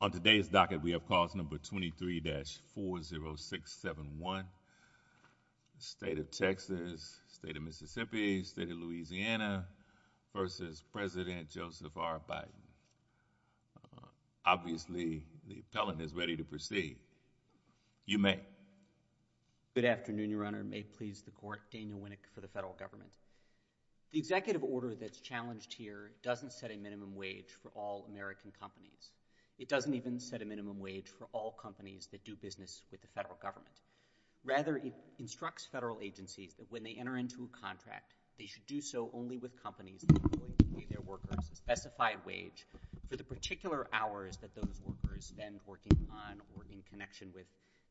On today's docket, we have calls number 23-40671, State of Texas, State of Mississippi, State of Louisiana v. President Joseph R. Biden. Obviously, the appellant is ready to proceed. You may. Good afternoon, Your Honor. May it please the Court, Daniel Winnick for the federal government. The executive order that's challenged here doesn't set a minimum wage for all American companies. It doesn't even set a minimum wage for all companies that do business with the federal government. Rather, it instructs federal agencies that when they enter into a contract, they should do so only with companies that employ their workers, a specified wage for the particular hours that those workers spend working on or in connection with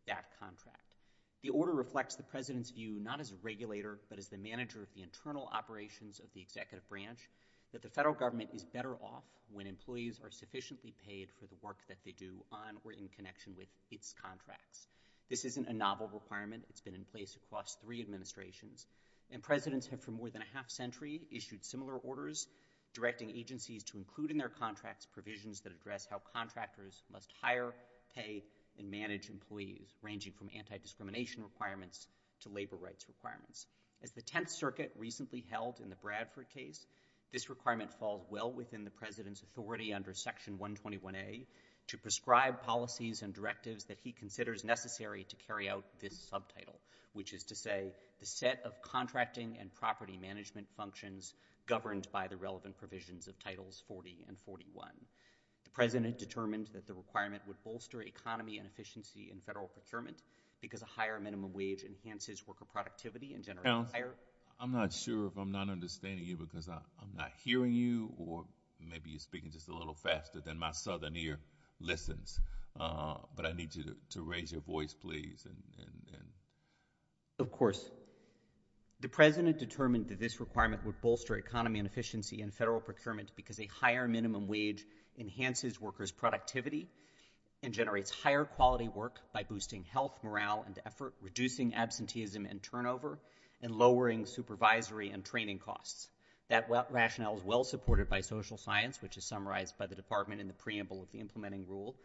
that contract. The order reflects the president's view, not as a regulator, but as the manager of the internal operations of the executive branch, that the federal government is better off when employees are sufficiently paid for the work that they do on or in connection with its contracts. This isn't a novel requirement. It's been in place across three administrations. And presidents have, for more than a half century, issued similar orders directing agencies to include in their contracts provisions that address how contractors must hire, pay, and manage employees, ranging from anti-discrimination requirements to labor rights requirements. As the Tenth Circuit recently held in the Bradford case, this requirement falls well within the president's authority under Section 121A to prescribe policies and directives that he considers necessary to carry out this subtitle, which is to say, the set of contracting and property management functions governed by the relevant provisions of Titles 40 and 41. The president determined that the requirement would bolster economy and efficiency in federal procurement because a higher minimum wage enhances worker productivity and generates higher— Counsel, I'm not sure if I'm not understanding you because I'm not hearing you or maybe you're speaking just a little faster than my southern ear listens, but I need you to raise your voice, please, and— Of course. The president determined that this requirement would bolster economy and efficiency in federal procurement because a higher minimum wage enhances worker productivity and generates higher quality work by boosting health, morale, and effort, reducing absenteeism and turnover, and lowering supervisory and training costs. That rationale is well supported by social science, which is summarized by the department in the preamble of the implementing rule.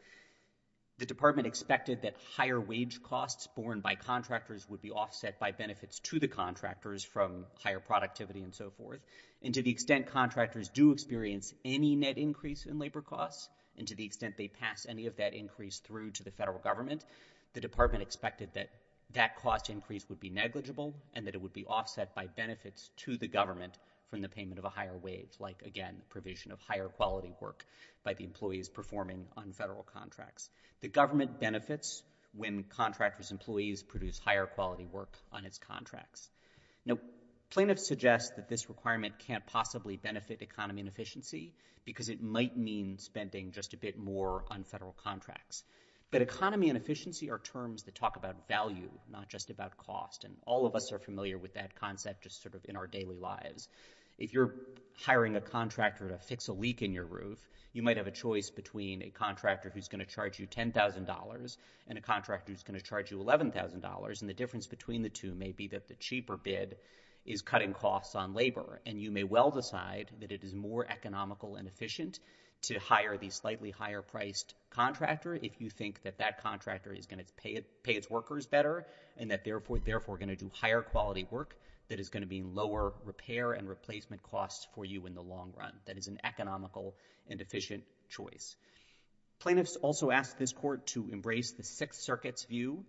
The department expected that higher wage costs borne by contractors would be offset by benefits to the contractors from higher productivity and so forth, and to the extent contractors do experience any net increase in labor costs and to the extent they pass any of that increase through to the federal government, the department expected that that cost increase would be negligible and that it would be offset by benefits to the government from the payment of a higher wage, like, again, provision of higher quality work by the employees performing on federal contracts. The government benefits when contractors' employees produce higher quality work on its contracts. Now, plaintiffs suggest that this requirement can't possibly benefit economy and efficiency because it might mean spending just a bit more on federal contracts, but economy and efficiency are terms that talk about value, not just about cost, and all of us are familiar with that concept just sort of in our daily lives. If you're hiring a contractor to fix a leak in your roof, you might have a choice between a contractor who's going to charge you $10,000 and a contractor who's going to charge you $11,000, and the difference between the two may be that the cheaper bid is cutting costs on labor, and you may well decide that it is more economical and efficient to hire the slightly higher-priced contractor if you think that that contractor is going to pay its workers better and that they're therefore going to do higher quality work that is going to mean lower repair and replacement costs for you in the long run. That is an economical and efficient choice. Plaintiffs also ask this court to embrace the Sixth Circuit's view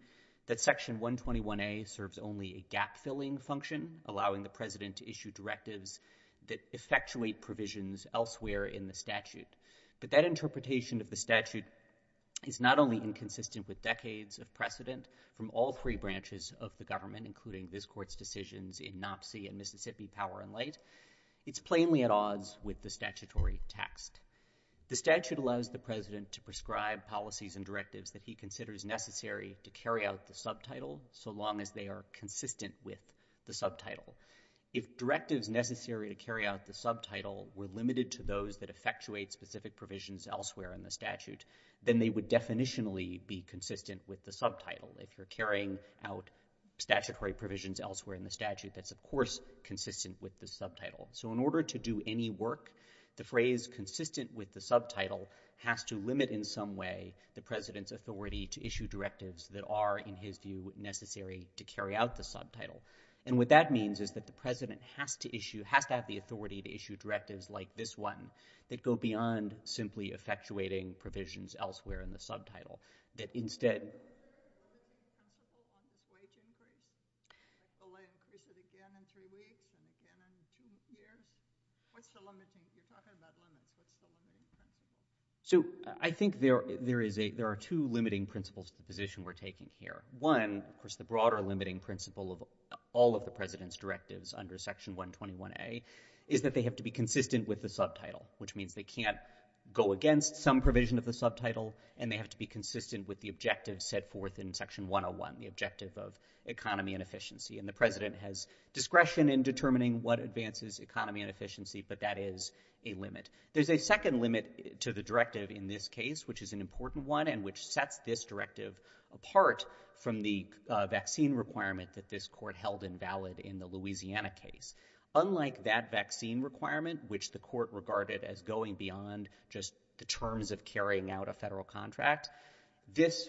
that Section 121A serves only a gap-filling function, allowing the president to issue directives that effectuate provisions elsewhere in the statute, but that interpretation of the statute is not only inconsistent with decades of precedent from all three branches of the government, including this court's decisions in Knopsey and Mississippi Power and Light, it's plainly at odds with the statutory text. The statute allows the president to prescribe policies and directives that he considers necessary to carry out the subtitle so long as they are consistent with the subtitle. If directives necessary to carry out the subtitle were limited to those that effectuate specific provisions elsewhere in the statute, then they would definitionally be consistent with the subtitle. If you're carrying out statutory provisions elsewhere in the statute, that's of course consistent with the subtitle. So in order to do any work, the phrase consistent with the subtitle has to limit in some way the president's authority to issue directives that are, in his view, necessary to carry out the subtitle. And what that means is that the president has to have the authority to issue directives like this one that go beyond simply effectuating provisions elsewhere in the subtitle, that instead... So I think there are two limiting principles to the position we're taking here. One, of course, the broader limiting principle of all of the president's directives under Section 121A is that they have to be consistent with the subtitle, which means they can't go against some provision of the subtitle, and they have to be consistent with the objective set forth in Section 101, the objective of economy and efficiency. And the president has discretion in determining what advances economy and efficiency, but that is a limit. There's a second limit to the directive in this case, which is an important one and which sets this directive apart from the vaccine requirement that this court held invalid in the Louisiana case. Unlike that vaccine requirement, which the court regarded as going beyond just the terms of carrying out a federal contract, this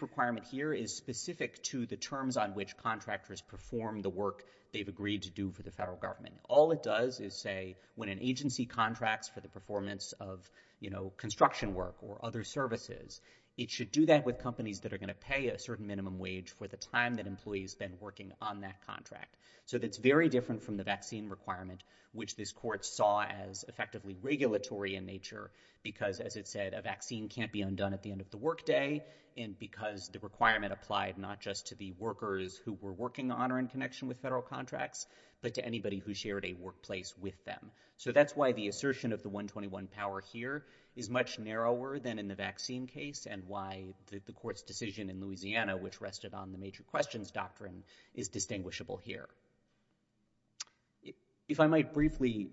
requirement here is specific to the terms on which contractors perform the work they've agreed to do for the federal government. All it does is say when an agency contracts for the performance of construction work or other services, it should do that with companies that are going to pay a certain minimum wage for the time that employee's been working on that contract. So that's very different from the vaccine requirement, which this court saw as effectively regulatory in nature because, as it said, a vaccine can't be undone at the end of the work day, and because the requirement applied not just to the workers who were working on or in connection with federal contracts, but to anybody who shared a workplace with them. So that's why the assertion of the 121 power here is much narrower than in the vaccine case and why the court's decision in Louisiana, which rested on the major questions doctrine, is distinguishable here. If I might briefly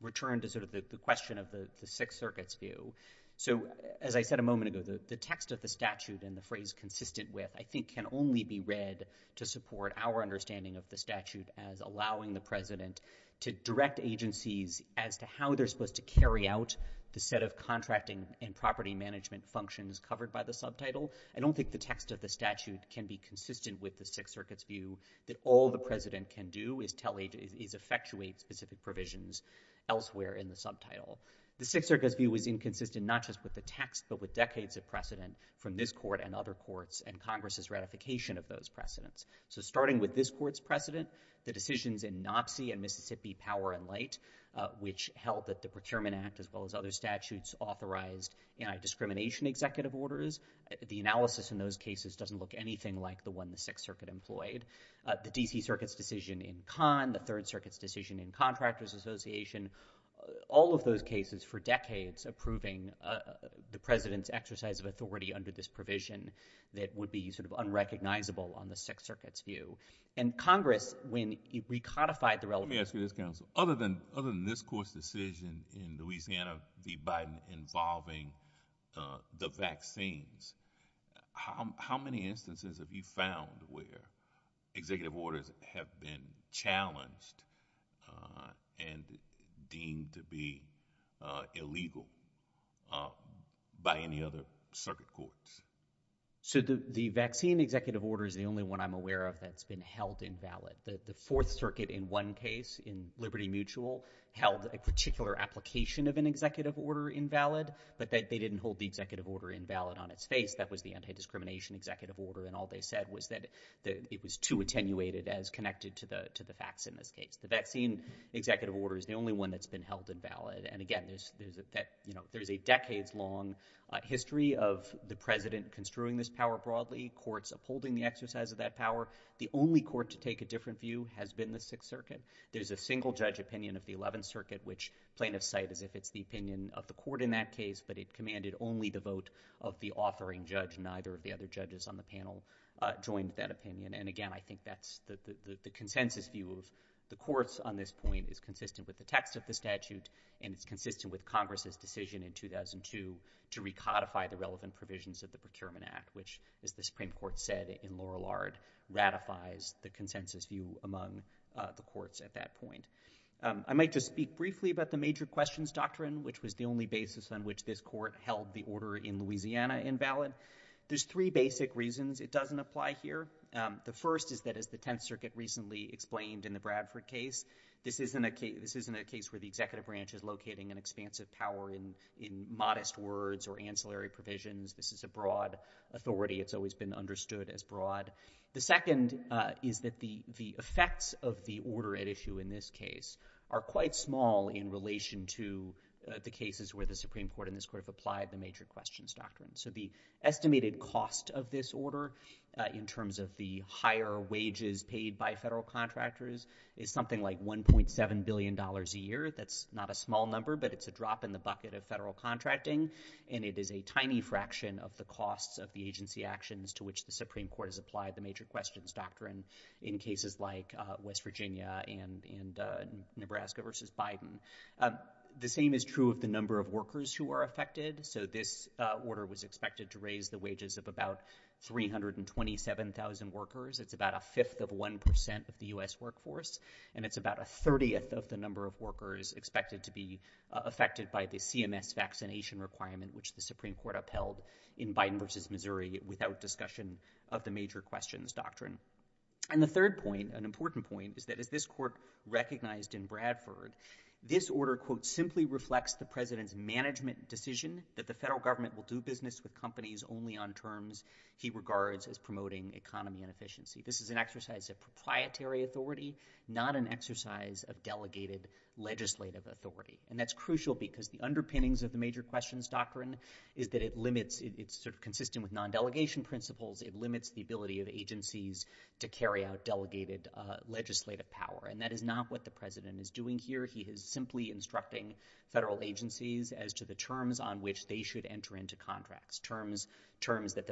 return to sort of the question of the Sixth Circuit's view. So as I said a moment ago, the text of the statute and the phrase consistent with, I think, can only be read to support our understanding of the statute as allowing the president to direct agencies as to how they're supposed to carry out the set of contracting and property management functions covered by the subtitle. I don't think the text of the statute can be consistent with the Sixth Circuit's view that all the president can do is effectuate specific provisions elsewhere in the subtitle. The Sixth Circuit's view is inconsistent not just with the text, but with decades of precedent from this court and other courts and Congress's ratification of those precedents. So starting with this court's precedent, the decisions in Knopsy and Mississippi Power and Light, which held that the Procurement Act, as well as other statutes, authorized anti-discrimination executive orders. The analysis in those cases doesn't look anything like the one the Sixth Circuit employed. The D.C. Circuit's decision in Kahn, the Third Circuit's decision in Contractors Association, all of those cases for decades approving the president's exercise of authority under this provision that would be sort of unrecognizable on the Sixth Circuit's view. And Congress, when it recodified the relevant— Let me ask you this, counsel. Other than this court's decision in Louisiana v. Biden involving the vaccines, how many instances have you found where executive orders have been challenged and deemed to be illegal by any other circuit courts? So the vaccine executive order is the only one I'm aware of that's been held invalid. The Fourth Circuit has a particular application of an executive order invalid, but they didn't hold the executive order invalid on its face. That was the anti-discrimination executive order, and all they said was that it was too attenuated as connected to the facts in this case. The vaccine executive order is the only one that's been held invalid. And again, there's a decades-long history of the president construing this power broadly, courts upholding the exercise of that power. The only court to take a different view has been the Sixth Circuit. There's a single-judge opinion of the Eleventh Circuit, which plaintiffs cite as if it's the opinion of the court in that case, but it commanded only the vote of the authoring judge. Neither of the other judges on the panel joined that opinion. And again, I think that's the consensus view of the courts on this point is consistent with the text of the statute, and it's consistent with Congress's decision in 2002 to recodify the relevant provisions of the Procurement Act, which, as the Supreme Court said in Lorillard, ratifies the consensus view among the courts at that point. I might just speak briefly about the major questions doctrine, which was the only basis on which this court held the order in Louisiana invalid. There's three basic reasons it doesn't apply here. The first is that, as the Tenth Circuit recently explained in the Bradford case, this isn't a case where the executive branch is locating an expansive power in modest words or provisions. This is a broad authority. It's always been understood as broad. The second is that the effects of the order at issue in this case are quite small in relation to the cases where the Supreme Court and this court have applied the major questions doctrine. So the estimated cost of this order, in terms of the higher wages paid by federal contractors, is something like $1.7 billion a year. That's not a small number, but it's a drop in the bucket of federal contracting, and it is a tiny fraction of the costs of the agency actions to which the Supreme Court has applied the major questions doctrine in cases like West Virginia and Nebraska versus Biden. The same is true of the number of workers who are affected. So this order was expected to raise the wages of about 327,000 workers. It's about a fifth of 1% of the U.S. workforce, and it's about a thirtieth of the number of workers expected to be affected by the CMS vaccination requirement, which the Supreme Court upheld in Biden versus Missouri without discussion of the major questions doctrine. And the third point, an important point, is that as this court recognized in Bradford, this order, quote, simply reflects the president's management decision that the federal government will do business with companies only on terms he regards as promoting economy and efficiency. This is an exercise of proprietary authority, not an exercise of delegated legislative authority. And that's crucial because the underpinnings of the major questions doctrine is that it limits, it's sort of consistent with non-delegation principles, it limits the ability of agencies to carry out delegated legislative power. And that is not what the president is doing here. He is simply instructing federal agencies as to the terms on which they should enter into contracts, terms that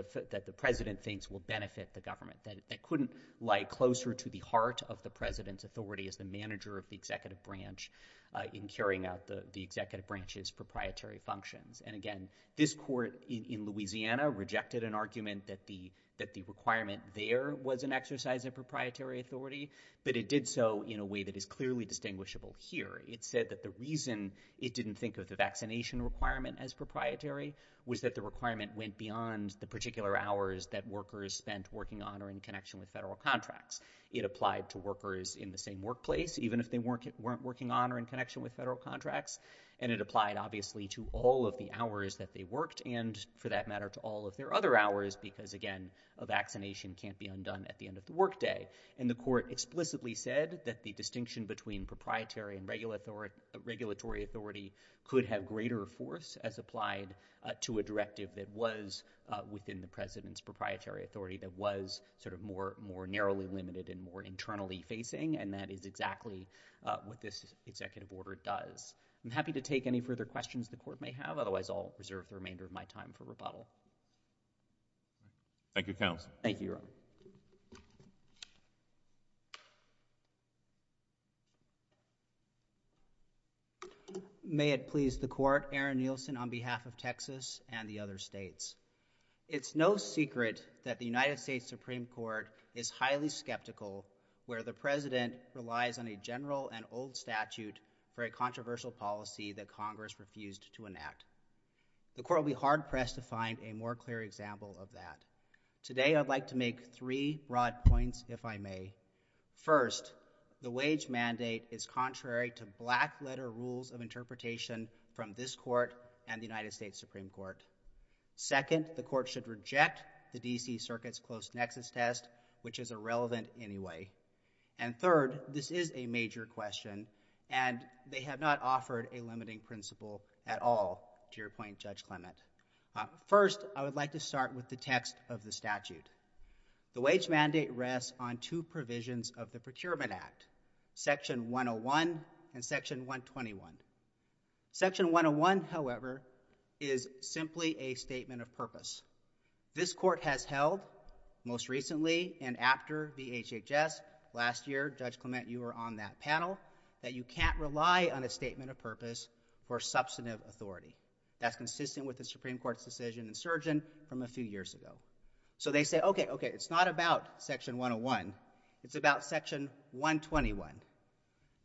the president thinks will benefit the government, that couldn't lie closer to the heart of the president's authority as the manager of the executive branch in carrying out the executive branch's proprietary functions. And again, this court in Louisiana rejected an argument that the requirement there was an exercise of proprietary authority, but it did so in a way that is clearly distinguishable here. It said that the reason it didn't think of the vaccination requirement as proprietary was that the requirement went beyond the particular hours that workers spent working on or in connection with federal contracts. It applied to workers in the same workplace, even if they weren't working on or in connection with federal contracts. And it applied obviously to all of the hours that they worked and for that matter, to all of their other hours, because again, a vaccination can't be undone at the end of the workday. And the court explicitly said that the distinction between proprietary and regulatory authority could have greater force as applied to a directive that was within the president's proprietary authority that was sort of more narrowly limited and more internally facing. And that is exactly what this executive order does. I'm happy to take any further questions the court may have. Otherwise, I'll reserve the remainder of my time for rebuttal. Thank you, counsel. Thank you. Thank you. May it please the court, Aaron Nielsen on behalf of Texas and the other states. It's no secret that the United States Supreme Court is highly skeptical where the president relies on a general and old statute for a controversial policy that Congress refused to enact. The court will be hard pressed to find a more clear example of that. Today, I'd like to make three broad points, if I may. First, the wage mandate is contrary to black letter rules of interpretation from this court and the United States Supreme Court. Second, the court should reject the DC circuit's close nexus test, which is irrelevant anyway. And third, this is a major question, and they have not offered a limiting principle at all to your point, Judge Clement. First, I would like to start with the text of the statute. The wage mandate rests on two provisions of the Procurement Act, section 101 and section 121. Section 101, however, is simply a statement of purpose. This court has held, most recently and after VHHS, last year, Judge Clement, you were on that panel, that you can't rely on a statement of purpose for substantive authority. That's consistent with the Supreme Court's decision in Surgeon from a few years ago. So they say, OK, OK, it's not about section 101. It's about section 121.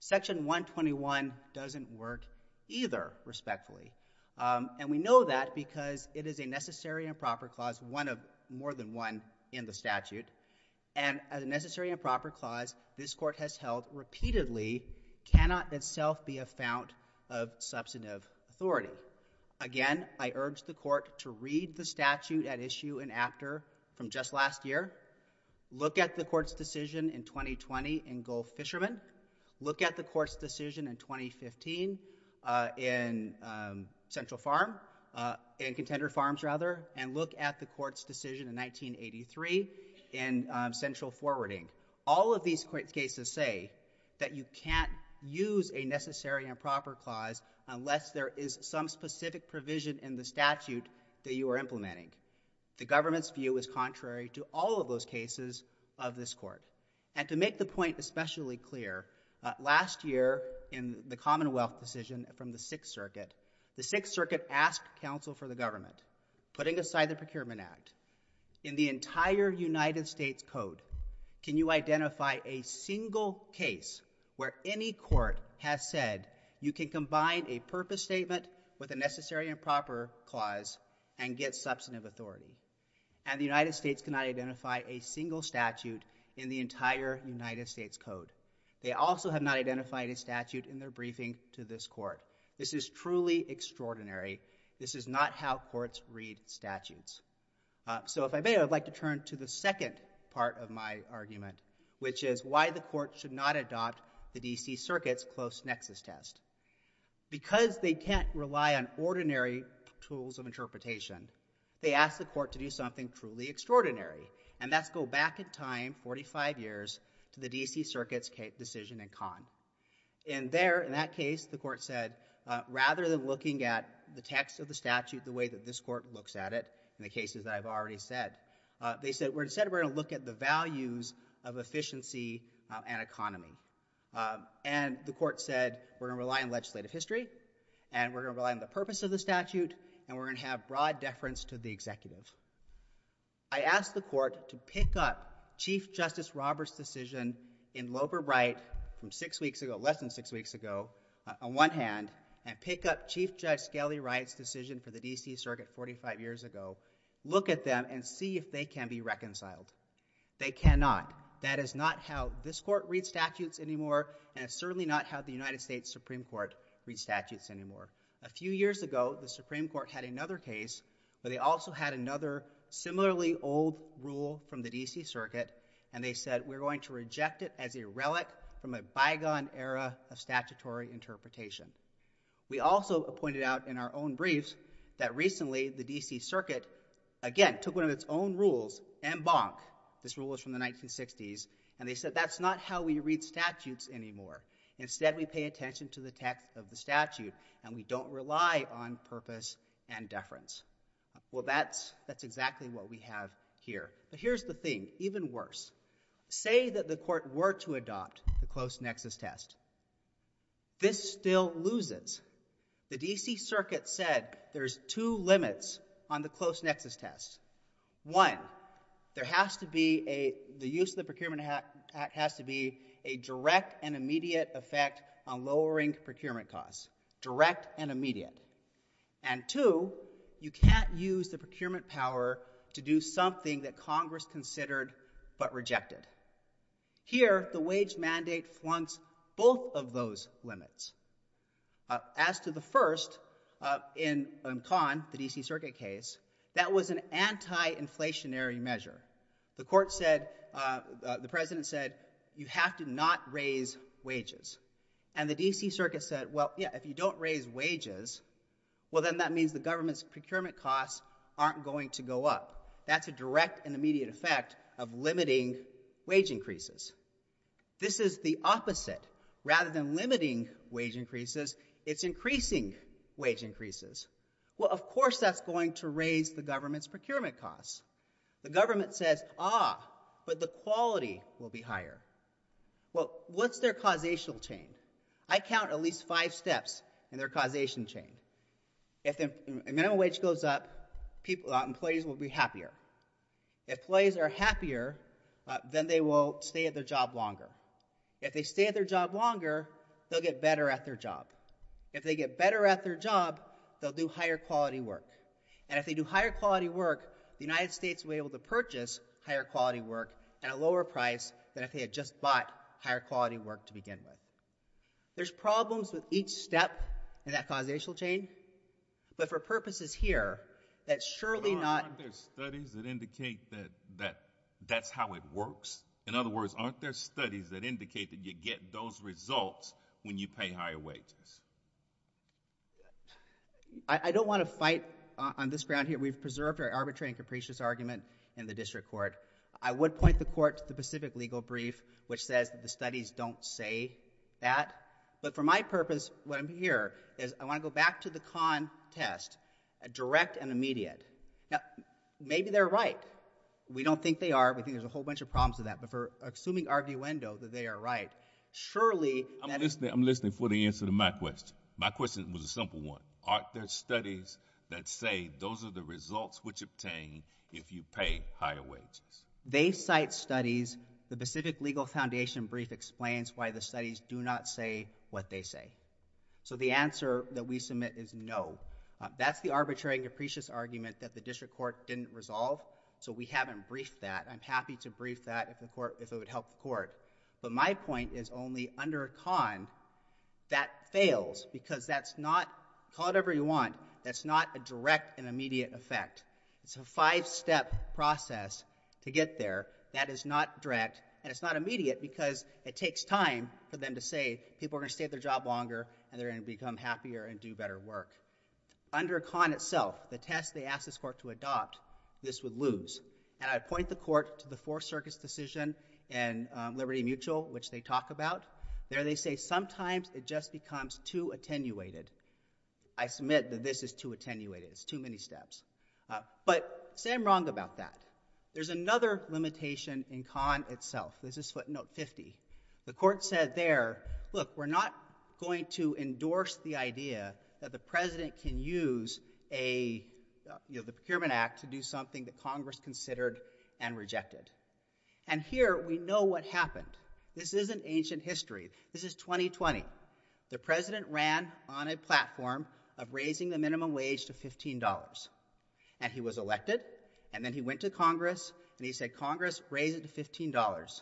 Section 121 doesn't work either, respectfully. And we know that because it is a necessary and proper clause, one of more than one in the statute. And as a necessary and proper clause, this court has held, repeatedly, cannot itself be a fount of substantive authority. Again, I urge the court to read the statute at issue and after from just last year. Look at the court's decision in 2020 in Gulf Fishermen. Look at the court's decision in 2015 in Central Farm, in Contender Farms, rather. And look at the court's decision in 1983 in Central Forwarding. All of these cases say that you can't use a necessary and proper clause unless there is some specific provision in the statute that you are implementing. The government's view is contrary to all of those cases of this court. And to make the point especially clear, last year in the Commonwealth decision from the Sixth Circuit, the Sixth Circuit asked counsel for the government, putting aside the Procurement Act, in the entire United States Code, can you identify a single case where any court has said you can combine a purpose statement with a necessary and proper clause and get substantive authority. And the United States cannot identify a single statute in the entire United States Code. They also have not identified a statute in their briefing to this court. This is truly extraordinary. This is not how courts read statutes. So if I may, I'd like to turn to the second part of my argument, which is why the court should not adopt the D.C. Circuit's close nexus test. Because they can't rely on ordinary tools of interpretation, they asked the court to do something truly extraordinary. And that's go back in time 45 years to the D.C. Circuit's decision in Cannes. And there, in that case, the court said, rather than looking at the text of the statute the way that this court looks at it, in the cases that I've already said, they said, instead we're going to look at the values of efficiency and economy. And the court said, we're going to rely on legislative history, and we're going to rely on the purpose of the statute, and we're going to have broad deference to the executive. I asked the court to pick up Chief Justice Robert's decision in Loebert Wright from six weeks ago, less than six weeks ago, on one hand, and pick up Chief Judge Skelly Wright's decision for the D.C. Circuit 45 years ago, look at them, and see if they can be reconciled. They cannot. That is not how this court reads statutes anymore, and it's certainly not how the United States Supreme Court reads statutes anymore. A few years ago, the Supreme Court had another case where they also had another similarly old rule from the D.C. Circuit, and they said, we're going to reject it as a relic from a bygone era of statutory interpretation. We also pointed out in our own briefs that recently, the D.C. Circuit, again, took one of its own rules, en banc, this rule was from the 1960s, and they said, that's not how we read statutes anymore. Instead, we pay attention to the text of the statute, and we don't rely on purpose and deference. Well, that's, that's exactly what we have here. But here's the thing, even worse. Say that the court were to adopt the close nexus test. This still loses. The D.C. Circuit said there's two limits on the close nexus test. One, there has to be a, the use of the Procurement Act has to be a direct and immediate effect on lowering procurement costs. Direct and immediate. And two, you can't use the procurement power to do something that Congress considered but rejected. Here, the wage mandate flunks both of those limits. As to the first, uh, in, um, Conn, the D.C. Circuit case, that was an anti-inflationary measure. The court said, uh, the President said, you have to not raise wages. And the D.C. Circuit said, well, yeah, if you don't raise wages, well, then that means the government's procurement costs aren't going to go up. That's a direct and immediate effect of limiting wage increases. This is the opposite. Rather than limiting wage increases, it's increasing wage increases. Well, of course that's going to raise the government's procurement costs. The government says, ah, but the quality will be higher. Well, what's their causational chain? I count at least five steps in their causation chain. If the minimum wage goes up, people, employees will be happier. If employees are happier, then they will stay at their job longer. If they stay at their job longer, they'll get better at their job. If they get better at their job, they'll do higher quality work. And if they do higher quality work, the United States will be able to purchase higher work at a lower price than if they had just bought higher quality work to begin with. There's problems with each step in that causational chain, but for purposes here, that's surely not— But aren't there studies that indicate that that's how it works? In other words, aren't there studies that indicate that you get those results when you pay higher wages? I don't want to fight on this ground here. We've preserved our arbitrary and capricious argument in the district court. I would point the court to the Pacific Legal Brief, which says that the studies don't say that. But for my purpose, what I'm here is I want to go back to the contest, direct and immediate. Now, maybe they're right. We don't think they are. We think there's a whole bunch of problems with that. But for assuming arguendo that they are right, surely— I'm listening for the answer to my question. My question was a simple one. Aren't there studies that say those are the results which obtain if you pay higher wages? They cite studies. The Pacific Legal Foundation Brief explains why the studies do not say what they say. So the answer that we submit is no. That's the arbitrary and capricious argument that the district court didn't resolve. So we haven't briefed that. I'm happy to brief that if it would help the court. But my point is only under a con that fails because that's not—call it whatever you want—that's not a direct and immediate effect. It's a five-step process to get there that is not direct and it's not immediate because it takes time for them to say people are going to stay at their job longer and they're going to become happier and do better work. Under a con itself, the test they asked this court to adopt, this would lose. And I'd point the court to the Fourth Circuit's decision in Liberty Mutual, which they talk about. There they say sometimes it just becomes too attenuated. I submit that this is too attenuated. It's too many steps. But say I'm wrong about that. There's another limitation in con itself. This is footnote 50. The court said there, look, we're not going to endorse the idea that the president can use the Procurement Act to do something that Congress considered and rejected. And here we know what happened. This is an ancient history. This is 2020. The president ran on a platform of raising the minimum wage to $15. And he was elected. And then he went to Congress and he said, Congress, raise it to $15.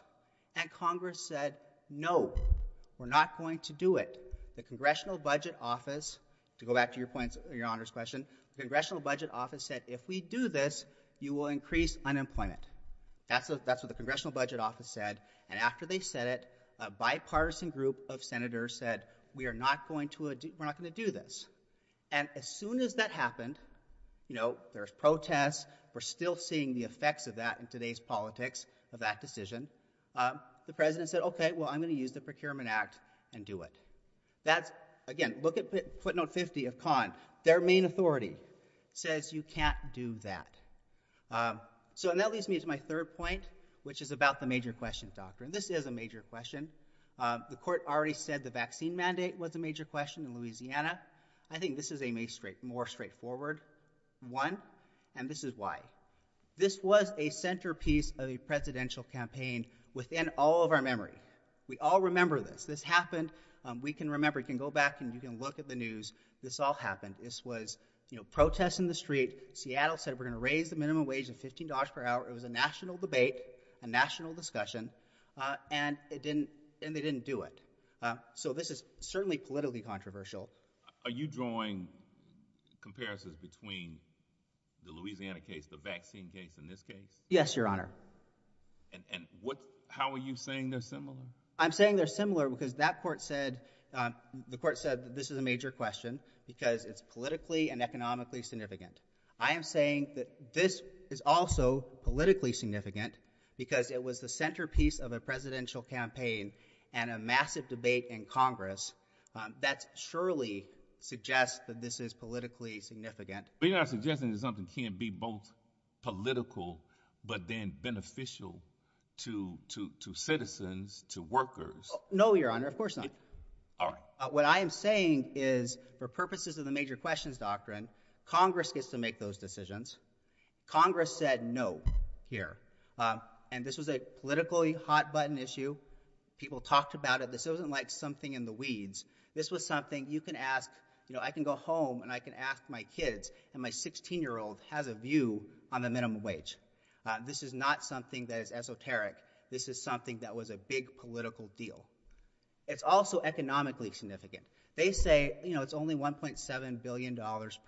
And Congress said, no, we're not going to do it. The Congressional Budget Office, to go back to your points, your Honor's question, the Congressional Budget Office said, if we do this, you will increase unemployment. That's what the Congressional Budget Office said. And after they said it, a bipartisan group of senators said, we are not going to, we're not going to do this. And as soon as that happened, you know, there's protests. We're still seeing the effects of that in today's politics, of that decision. The president said, okay, well, I'm going to use the Procurement Act and do it. That's, again, look at footnote 50 of con. Their main authority says you can't do that. So, and that leads me to my third point, which is about the major questions, doctor. And this is a major question. The court already said the vaccine mandate was a major question in Louisiana. I think this is a more straightforward one. And this is why. This was a centerpiece of a presidential campaign within all of our memory. We all remember this. This happened. We can remember, you can go back and you can look at the news. This all happened. This was, you know, protests in the street. Seattle said, we're going to raise the minimum wage of $15 per hour. It was a national debate, a national discussion, uh, and it didn't, and they didn't do it. Uh, so this is certainly politically controversial. Are you drawing comparisons between the Louisiana case, the vaccine case in this case? Yes, your honor. And, and what, how are you saying they're similar? I'm saying they're similar because that court said, um, the court said that this is a major question because it's politically and economically significant. I am saying that this is also politically significant because it was the centerpiece of a presidential campaign and a massive debate in Congress. Um, that's surely suggest that this is politically significant. But you're not suggesting that something can be both political, but then beneficial to, to, to citizens, to workers. No, your honor. Of course not. All right. What I am saying is for purposes of the major questions doctrine, Congress gets to make those decisions. Congress said no here. Um, and this was a politically hot button issue. People talked about it. This wasn't like something in the weeds. This was something you can ask, you know, I can go home and I can ask my kids and my 16 year old has a view on the minimum wage. Uh, this is not something that is esoteric. This is something that was a big political deal. It's also economically significant. They say, you know, it's only $1.7 billion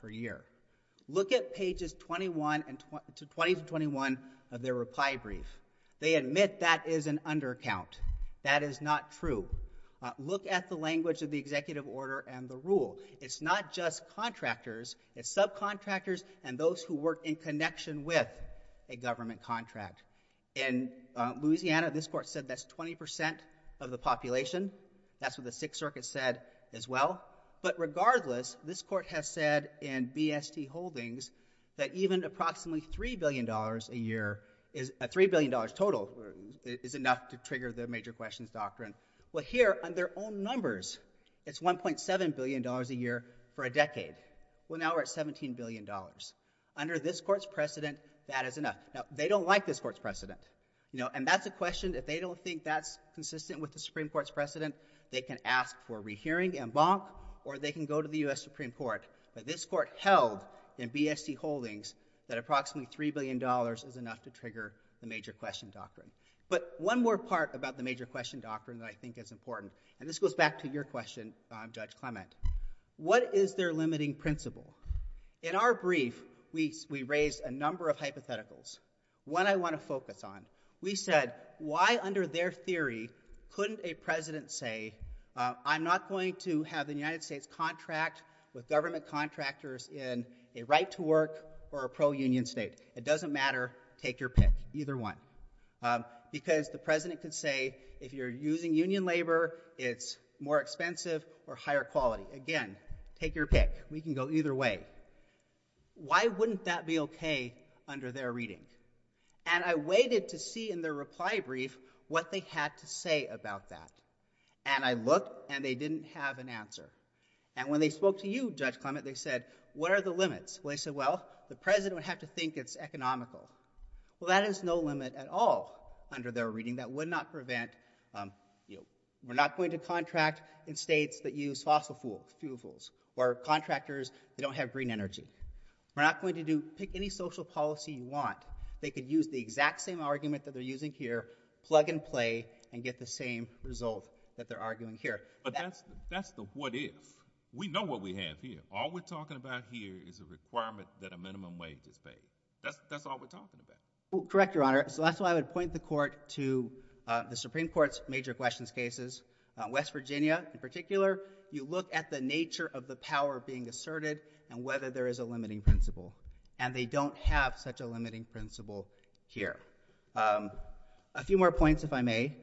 per year. Look at pages 21 and 20 to 21 of their reply brief. They admit that is an undercount. That is not true. Look at the language of the executive order and the rule. It's not just contractors, it's subcontractors and those who work in connection with a government contract. In that's what the sixth circuit said as well. But regardless, this court has said in BST holdings that even approximately $3 billion a year is a $3 billion total is enough to trigger the major questions doctrine. Well, here on their own numbers, it's $1.7 billion a year for a decade. Well, now we're at $17 billion under this court's precedent. That is enough. Now they don't like this court's precedent, you know, and that's a question. If they don't think that's consistent with the Supreme Court's precedent, they can ask for rehearing and bonk, or they can go to the U.S. Supreme Court. But this court held in BST holdings that approximately $3 billion is enough to trigger the major question doctrine. But one more part about the major question doctrine that I think is important, and this goes back to your question, Judge Clement. What is their limiting principle? In our brief, we raised a number of hypotheticals. One I want to focus on, we said, why under their theory couldn't a president say, I'm not going to have the United States contract with government contractors in a right-to-work or a pro-union state. It doesn't matter, take your pick, either one. Because the president could say, if you're using union labor, it's more expensive or higher quality. Again, take your pick. We can go either way. Why wouldn't that be okay under their reading? And I waited to see in their reply brief what they had to say about that. And I looked, and they didn't have an answer. And when they spoke to you, Judge Clement, they said, what are the limits? Well, they said, well, the president would have to think it's economical. Well, that is no limit at all under their reading. That would not prevent, you know, we're not going to contract in states that use fossil fuels, or contractors that don't have green energy. We're not going to do, pick any social policy you want. They could use the exact same argument that they're using here, plug and play, and get the same result that they're arguing here. But that's the what if. We know what we have here. All we're talking about here is a requirement that a minimum wage is paid. That's all we're talking about. Correct, Your Honor. So that's why I would point the court to the Supreme Court's major questions West Virginia, in particular. You look at the nature of the power being asserted, and whether there is a limiting principle. And they don't have such a limiting principle here. A few more points, if I may.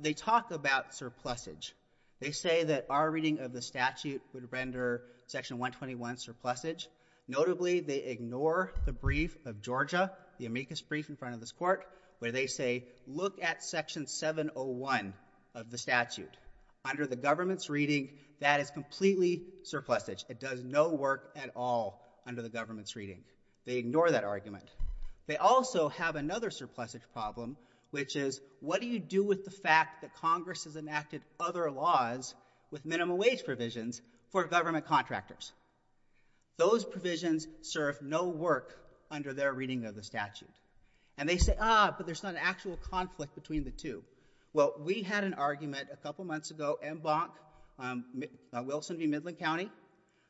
They talk about surplusage. They say that our reading of the statute would render Section 121 surplusage. Notably, they ignore the brief of Georgia, the amicus brief in front of this court, where they say, look at Section 701 of the statute. Under the government's reading, that is completely surplusage. It does no work at all under the government's reading. They ignore that argument. They also have another surplusage problem, which is, what do you do with the fact that Congress has enacted other laws with minimum wage provisions for government contractors? Those provisions serve no work under their reading of the statute. And they say, ah, but there's not an actual conflict between the two. Well, we had an argument a couple months ago, MBONC, Wilson v. Midland County.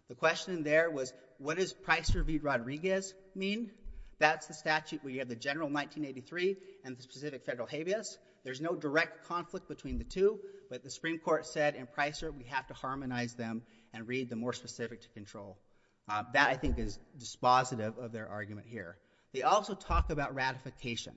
The question there was, what does Pricer v. Rodriguez mean? That's the statute where you have the general 1983 and the specific federal habeas. There's no direct conflict between the two. But the Supreme Court said in Pricer, we have to harmonize them and read the more specific to control. That, I think, is dispositive of their argument here. They also talk about ratification.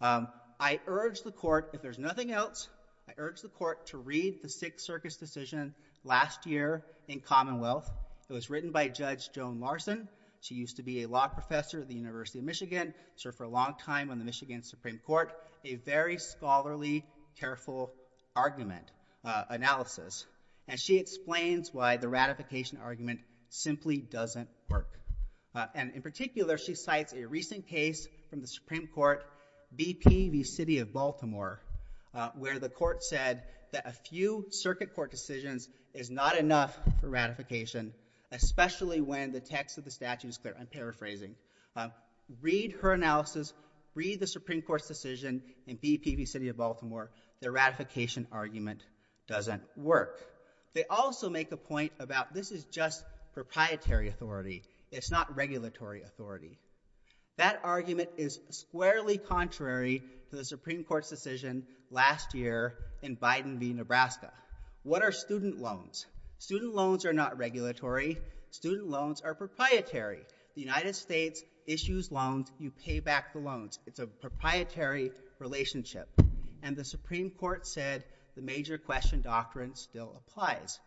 I urge the court, if there's nothing else, I urge the court to read the Sixth Circuit's decision last year in Commonwealth. It was written by Judge Joan Larson. She used to be a law professor at the University of Michigan, served for a long time on the Michigan Supreme Court. A very scholarly, careful argument, analysis. And she explains why the ratification argument simply doesn't work. And in particular, she cites a recent case from the Supreme Court, BP v. City of Baltimore, where the court said that a few circuit court decisions is not enough for ratification, especially when the text of the statute is clear. I'm paraphrasing. Read her analysis. Read the Supreme Court's decision in BP v. City of Baltimore. Their ratification argument doesn't work. They also make a point about this is just proprietary authority. It's not regulatory authority. That argument is squarely contrary to the Supreme Court's decision last year in Biden v. Nebraska. What are student loans? Student loans are not regulatory. Student loans are proprietary. The United States issues loans. You pay back the loans. It's a proprietary relationship. And the Supreme Court said the major question doctrine still applies.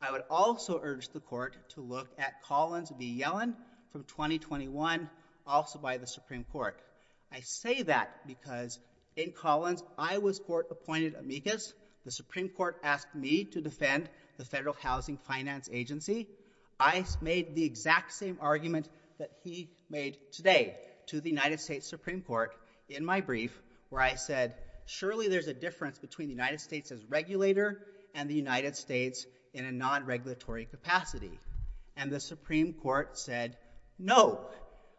I would also urge the court to look at Collins v. Yellen from 2021, also by the Supreme Court. I say that because in Collins, I was court-appointed amicus. The Supreme Court asked me to defend the Federal Housing Finance Agency. I made the exact same argument that he made today to the United States Supreme Court in my brief, where I said, surely there's a difference between the United States as regulator and the United States in a non-regulatory capacity. And the Supreme Court said, no.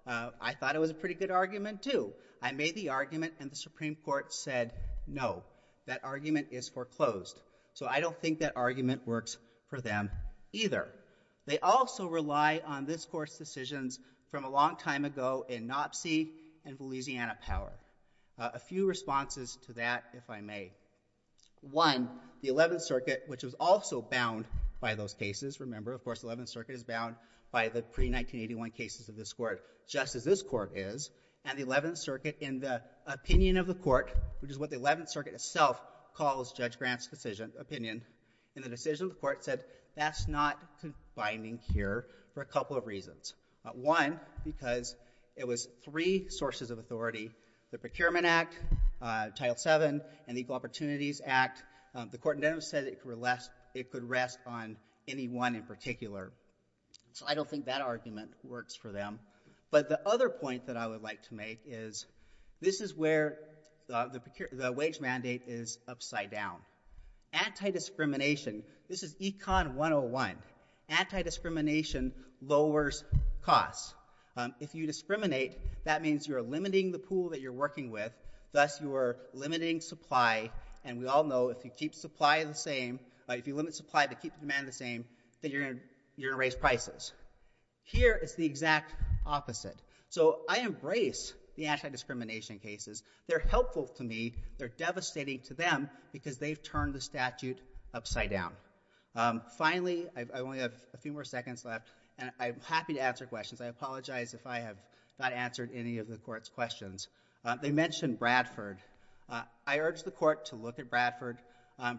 I thought it was a pretty good argument, too. I made the argument, and the Supreme Court said, no. That argument is foreclosed. So I don't think that argument works for them either. They also rely on this court's decisions from a long time ago in Knopsey v. Louisiana Power. A few responses to that, if I may. One, the Eleventh Circuit, which was also bound by those cases. Remember, of course, the Eleventh Circuit is bound by the pre-1981 cases of this court, just as this court is. And the Eleventh Circuit, in the opinion of the court, which is what the Eleventh Circuit itself calls Judge Grant's opinion, in the decision of the court, said, that's not confining here for a couple of reasons. One, because it was three sources of authority, the Procurement Act, Title VII, and the Equal Opportunities Act. The court then said it could rest on any one in particular. So I don't think that argument works for them. But the other point that I would like to make is, this is where the wage mandate is upside down. Anti-discrimination, this is Econ 101. Anti-discrimination lowers costs. If you discriminate, that means you're limiting the pool that you're working with, thus you're limiting supply. And we all know, if you keep supply the same, if you limit supply but keep demand the same, then you're going to raise prices. Here, it's the exact opposite. So I embrace the anti-discrimination cases. They're helpful to me. They're devastating to them, because they've turned the statute upside down. Finally, I only have a few more seconds left, and I'm happy to answer questions. I apologize if I have not answered any of the court's questions. They mentioned Bradford. I urge the court to look at Bradford.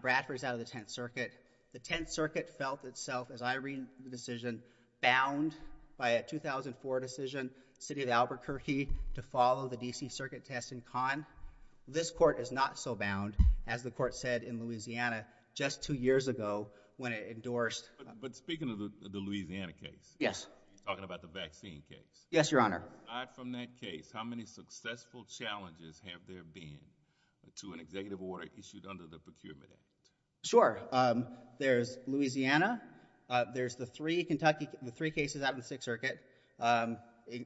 Bradford is out of the Tenth Circuit. The Tenth Circuit felt itself, as I read the decision, bound by a 2004 decision, the city of Albuquerque, to follow the D.C. Circuit test in Conn. This court is not so bound, as the court said in Louisiana just two years ago when it endorsed— But speaking of the Louisiana case— Yes. Talking about the vaccine case— Yes, Your Honor. Aside from that case, how many successful challenges have there been to an executive order issued under the Procurement Act? Sure. There's Louisiana. There's the three cases out in the Sixth Circuit,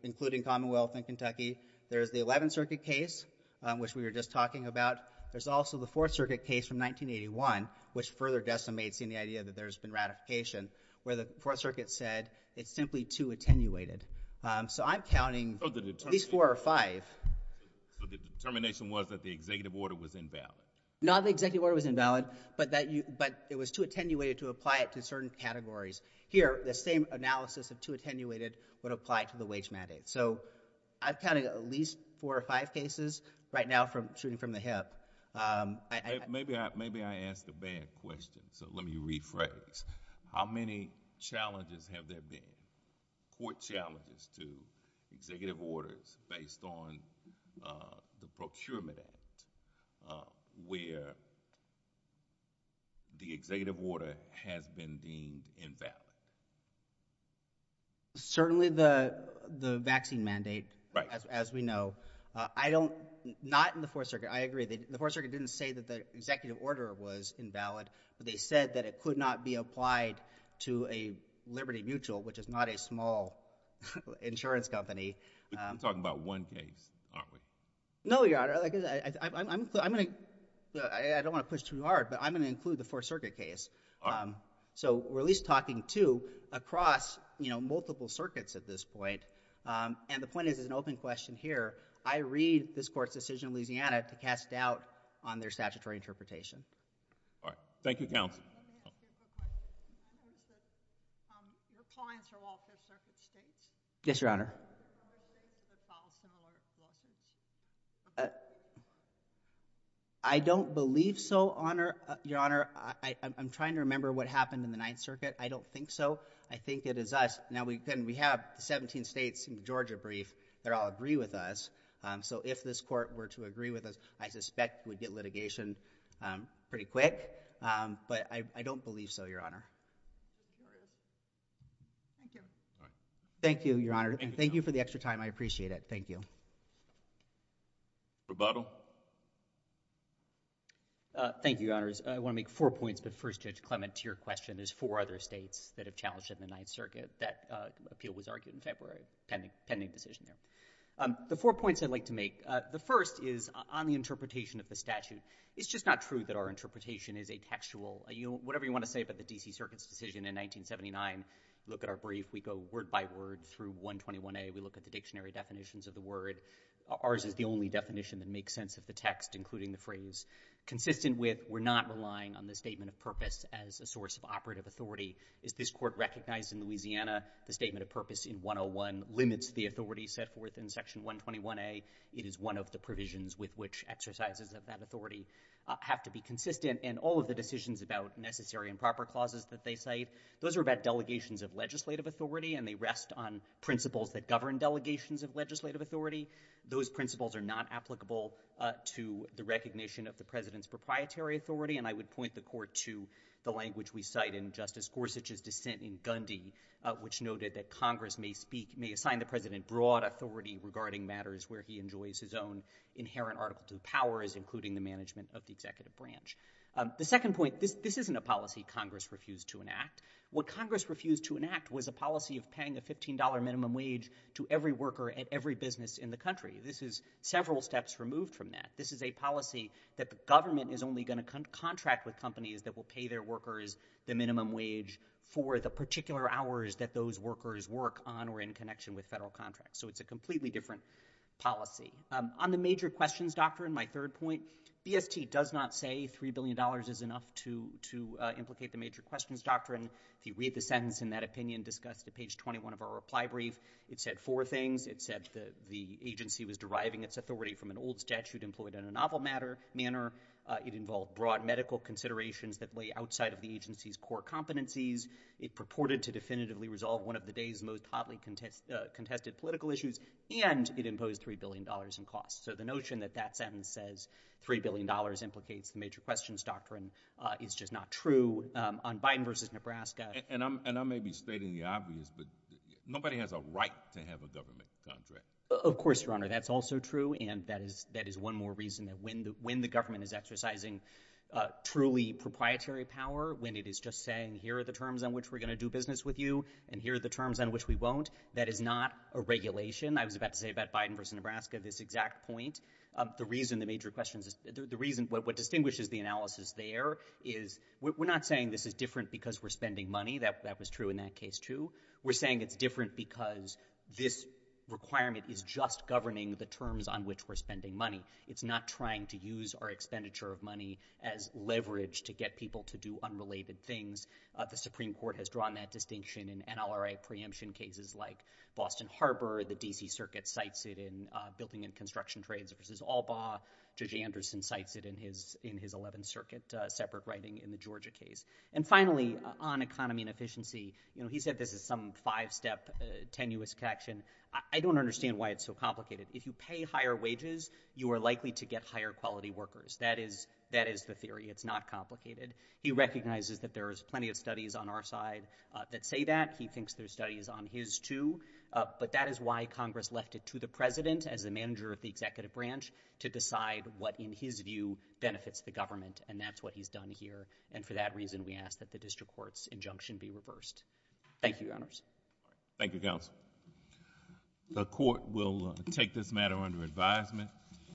including Commonwealth and Kentucky. There's the Eleventh Circuit case, which we were just talking about. There's also the Fourth Circuit case from 1981, which further decimates the idea that there's been ratification, where the Fourth Circuit said, it's simply too attenuated. So I'm counting at least four or five. So the determination was that the executive order was invalid? Not that the executive order was invalid, but it was too attenuated to apply it to certain categories. Here, the same analysis of too attenuated would apply to the wage mandate. So I'm counting at least four or five cases right now shooting from the hip. Maybe I asked a bad question, so let me rephrase. How many challenges have there been, court challenges to executive orders based on the Procurement Act, where the executive order has been deemed invalid? Certainly the vaccine mandate, as we know. Not in the Fourth Circuit. I agree. The Fourth Circuit didn't say that the executive order was invalid, but they said that it could not be applied to a Liberty Mutual, which is not a small insurance company. But you're talking about one case, aren't we? No, Your Honor. I don't want to push too hard, but I'm going to include the Fourth Circuit case. So we're at least talking two across multiple circuits at this point. And the point is, it's an open question here. I read this court's decision in Louisiana to cast doubt on their statutory interpretation. All right. Thank you, counsel. Your clients are all Fifth Circuit states? Yes, Your Honor. Are there other states that filed similar lawsuits? I don't believe so, Your Honor. I'm trying to remember what happened in the Ninth Circuit. I don't think so. I think it is us. Now, we have 17 states in the Georgia brief. They all agree with us. So if this court were to agree with us, I suspect we'd get litigation pretty quick. But I don't believe so, Your Honor. Thank you. Thank you, Your Honor. And thank you for the extra time. I appreciate it. Thank you. Rebuttal. Thank you, Your Honors. I want to make four points. But first, Judge Clement, to your question, there's four other states that have challenged in the Ninth Circuit. That appeal was argued in February, a pending decision there. The four points I'd like to make, the first is on the interpretation of the statute. It's just not true that our interpretation is a textual, whatever you want to say about the D.C. Circuit's decision in 1979. Look at our brief. We go word by word through 121A. We look at the dictionary definitions of the word. Ours is the only definition that makes sense of the text, including the phrase. Consistent with, we're not relying on the statement of purpose as a source of operative authority. As this court recognized in Louisiana, the statement of purpose in 101 limits the authority set forth in Section 121A. It is one of the provisions with which exercises of that authority have to be consistent in all of the decisions about necessary and proper clauses that they cite. Those are about delegations of legislative authority, and they rest on principles that govern delegations of legislative authority. Those principles are not applicable to the recognition of the President's proprietary authority. And I would point the court to the language we cite in Justice Gorsuch's dissent in Gundy, which noted that Congress may assign the President broad authority regarding matters where he enjoys his own inherent article to the powers, including the management of the executive branch. The second point, this isn't a policy Congress refused to enact. What Congress refused to enact was a policy of paying a $15 minimum wage to every worker at every business in the country. This is several steps removed from that. This is a policy that the government is only going to contract with companies that will pay their workers the minimum wage for the particular hours that those workers work on or in connection with federal contracts. So it's a completely different policy. On the major questions doctrine, my third point, BST does not say $3 billion is enough to implicate the major questions doctrine. If you read the sentence in that opinion discussed at page 21 of our reply brief, it said four things. It said the agency was deriving its authority from an old statute employed in a novel manner. It involved broad medical considerations that lay outside of the agency's core competencies. It purported to definitively resolve one of the day's most hotly contested political issues. And it imposed $3 billion in costs. So the notion that that sentence says $3 billion implicates the major questions doctrine is just not true on Biden versus Nebraska. And I may be stating the obvious, but nobody has a right to have a government contract. Of course, your honor, that's also true. And that is one more reason that when the government is exercising truly proprietary power, when it is just saying, here are the terms on which we're going to do business with you, and here are the terms on which we won't, that is not a regulation. I was about to say about Biden versus Nebraska, this exact point. The reason the major questions is the reason what distinguishes the analysis there is we're not saying this is different because we're spending money. That was true in that case, too. We're saying it's different because this requirement is just governing the terms on which we're spending money. It's not trying to use our expenditure of money as leverage to get people to do unrelated things. The Supreme Court has drawn that distinction in NLRA preemption cases like Boston Harbor. The DC Circuit cites it in Building and Construction Trades versus Albaugh. Judge Anderson cites it in his 11th Circuit separate writing in the Georgia case. And finally, on economy and efficiency, he said this is some five-step tenuous action. I don't understand why it's so complicated. If you pay higher wages, you are likely to get higher quality workers. That is the theory. It's not complicated. He recognizes that there is plenty of studies on our side that say that. He thinks there's studies on his, too. But that is why Congress left it to the president as the manager of the executive branch to decide what, in his view, benefits the government. And that's what he's done here. And for that reason, we ask that the district court's injunction be reversed. Thank you, Your Honors. Thank you, Counsel. The court will take this matter under advisement.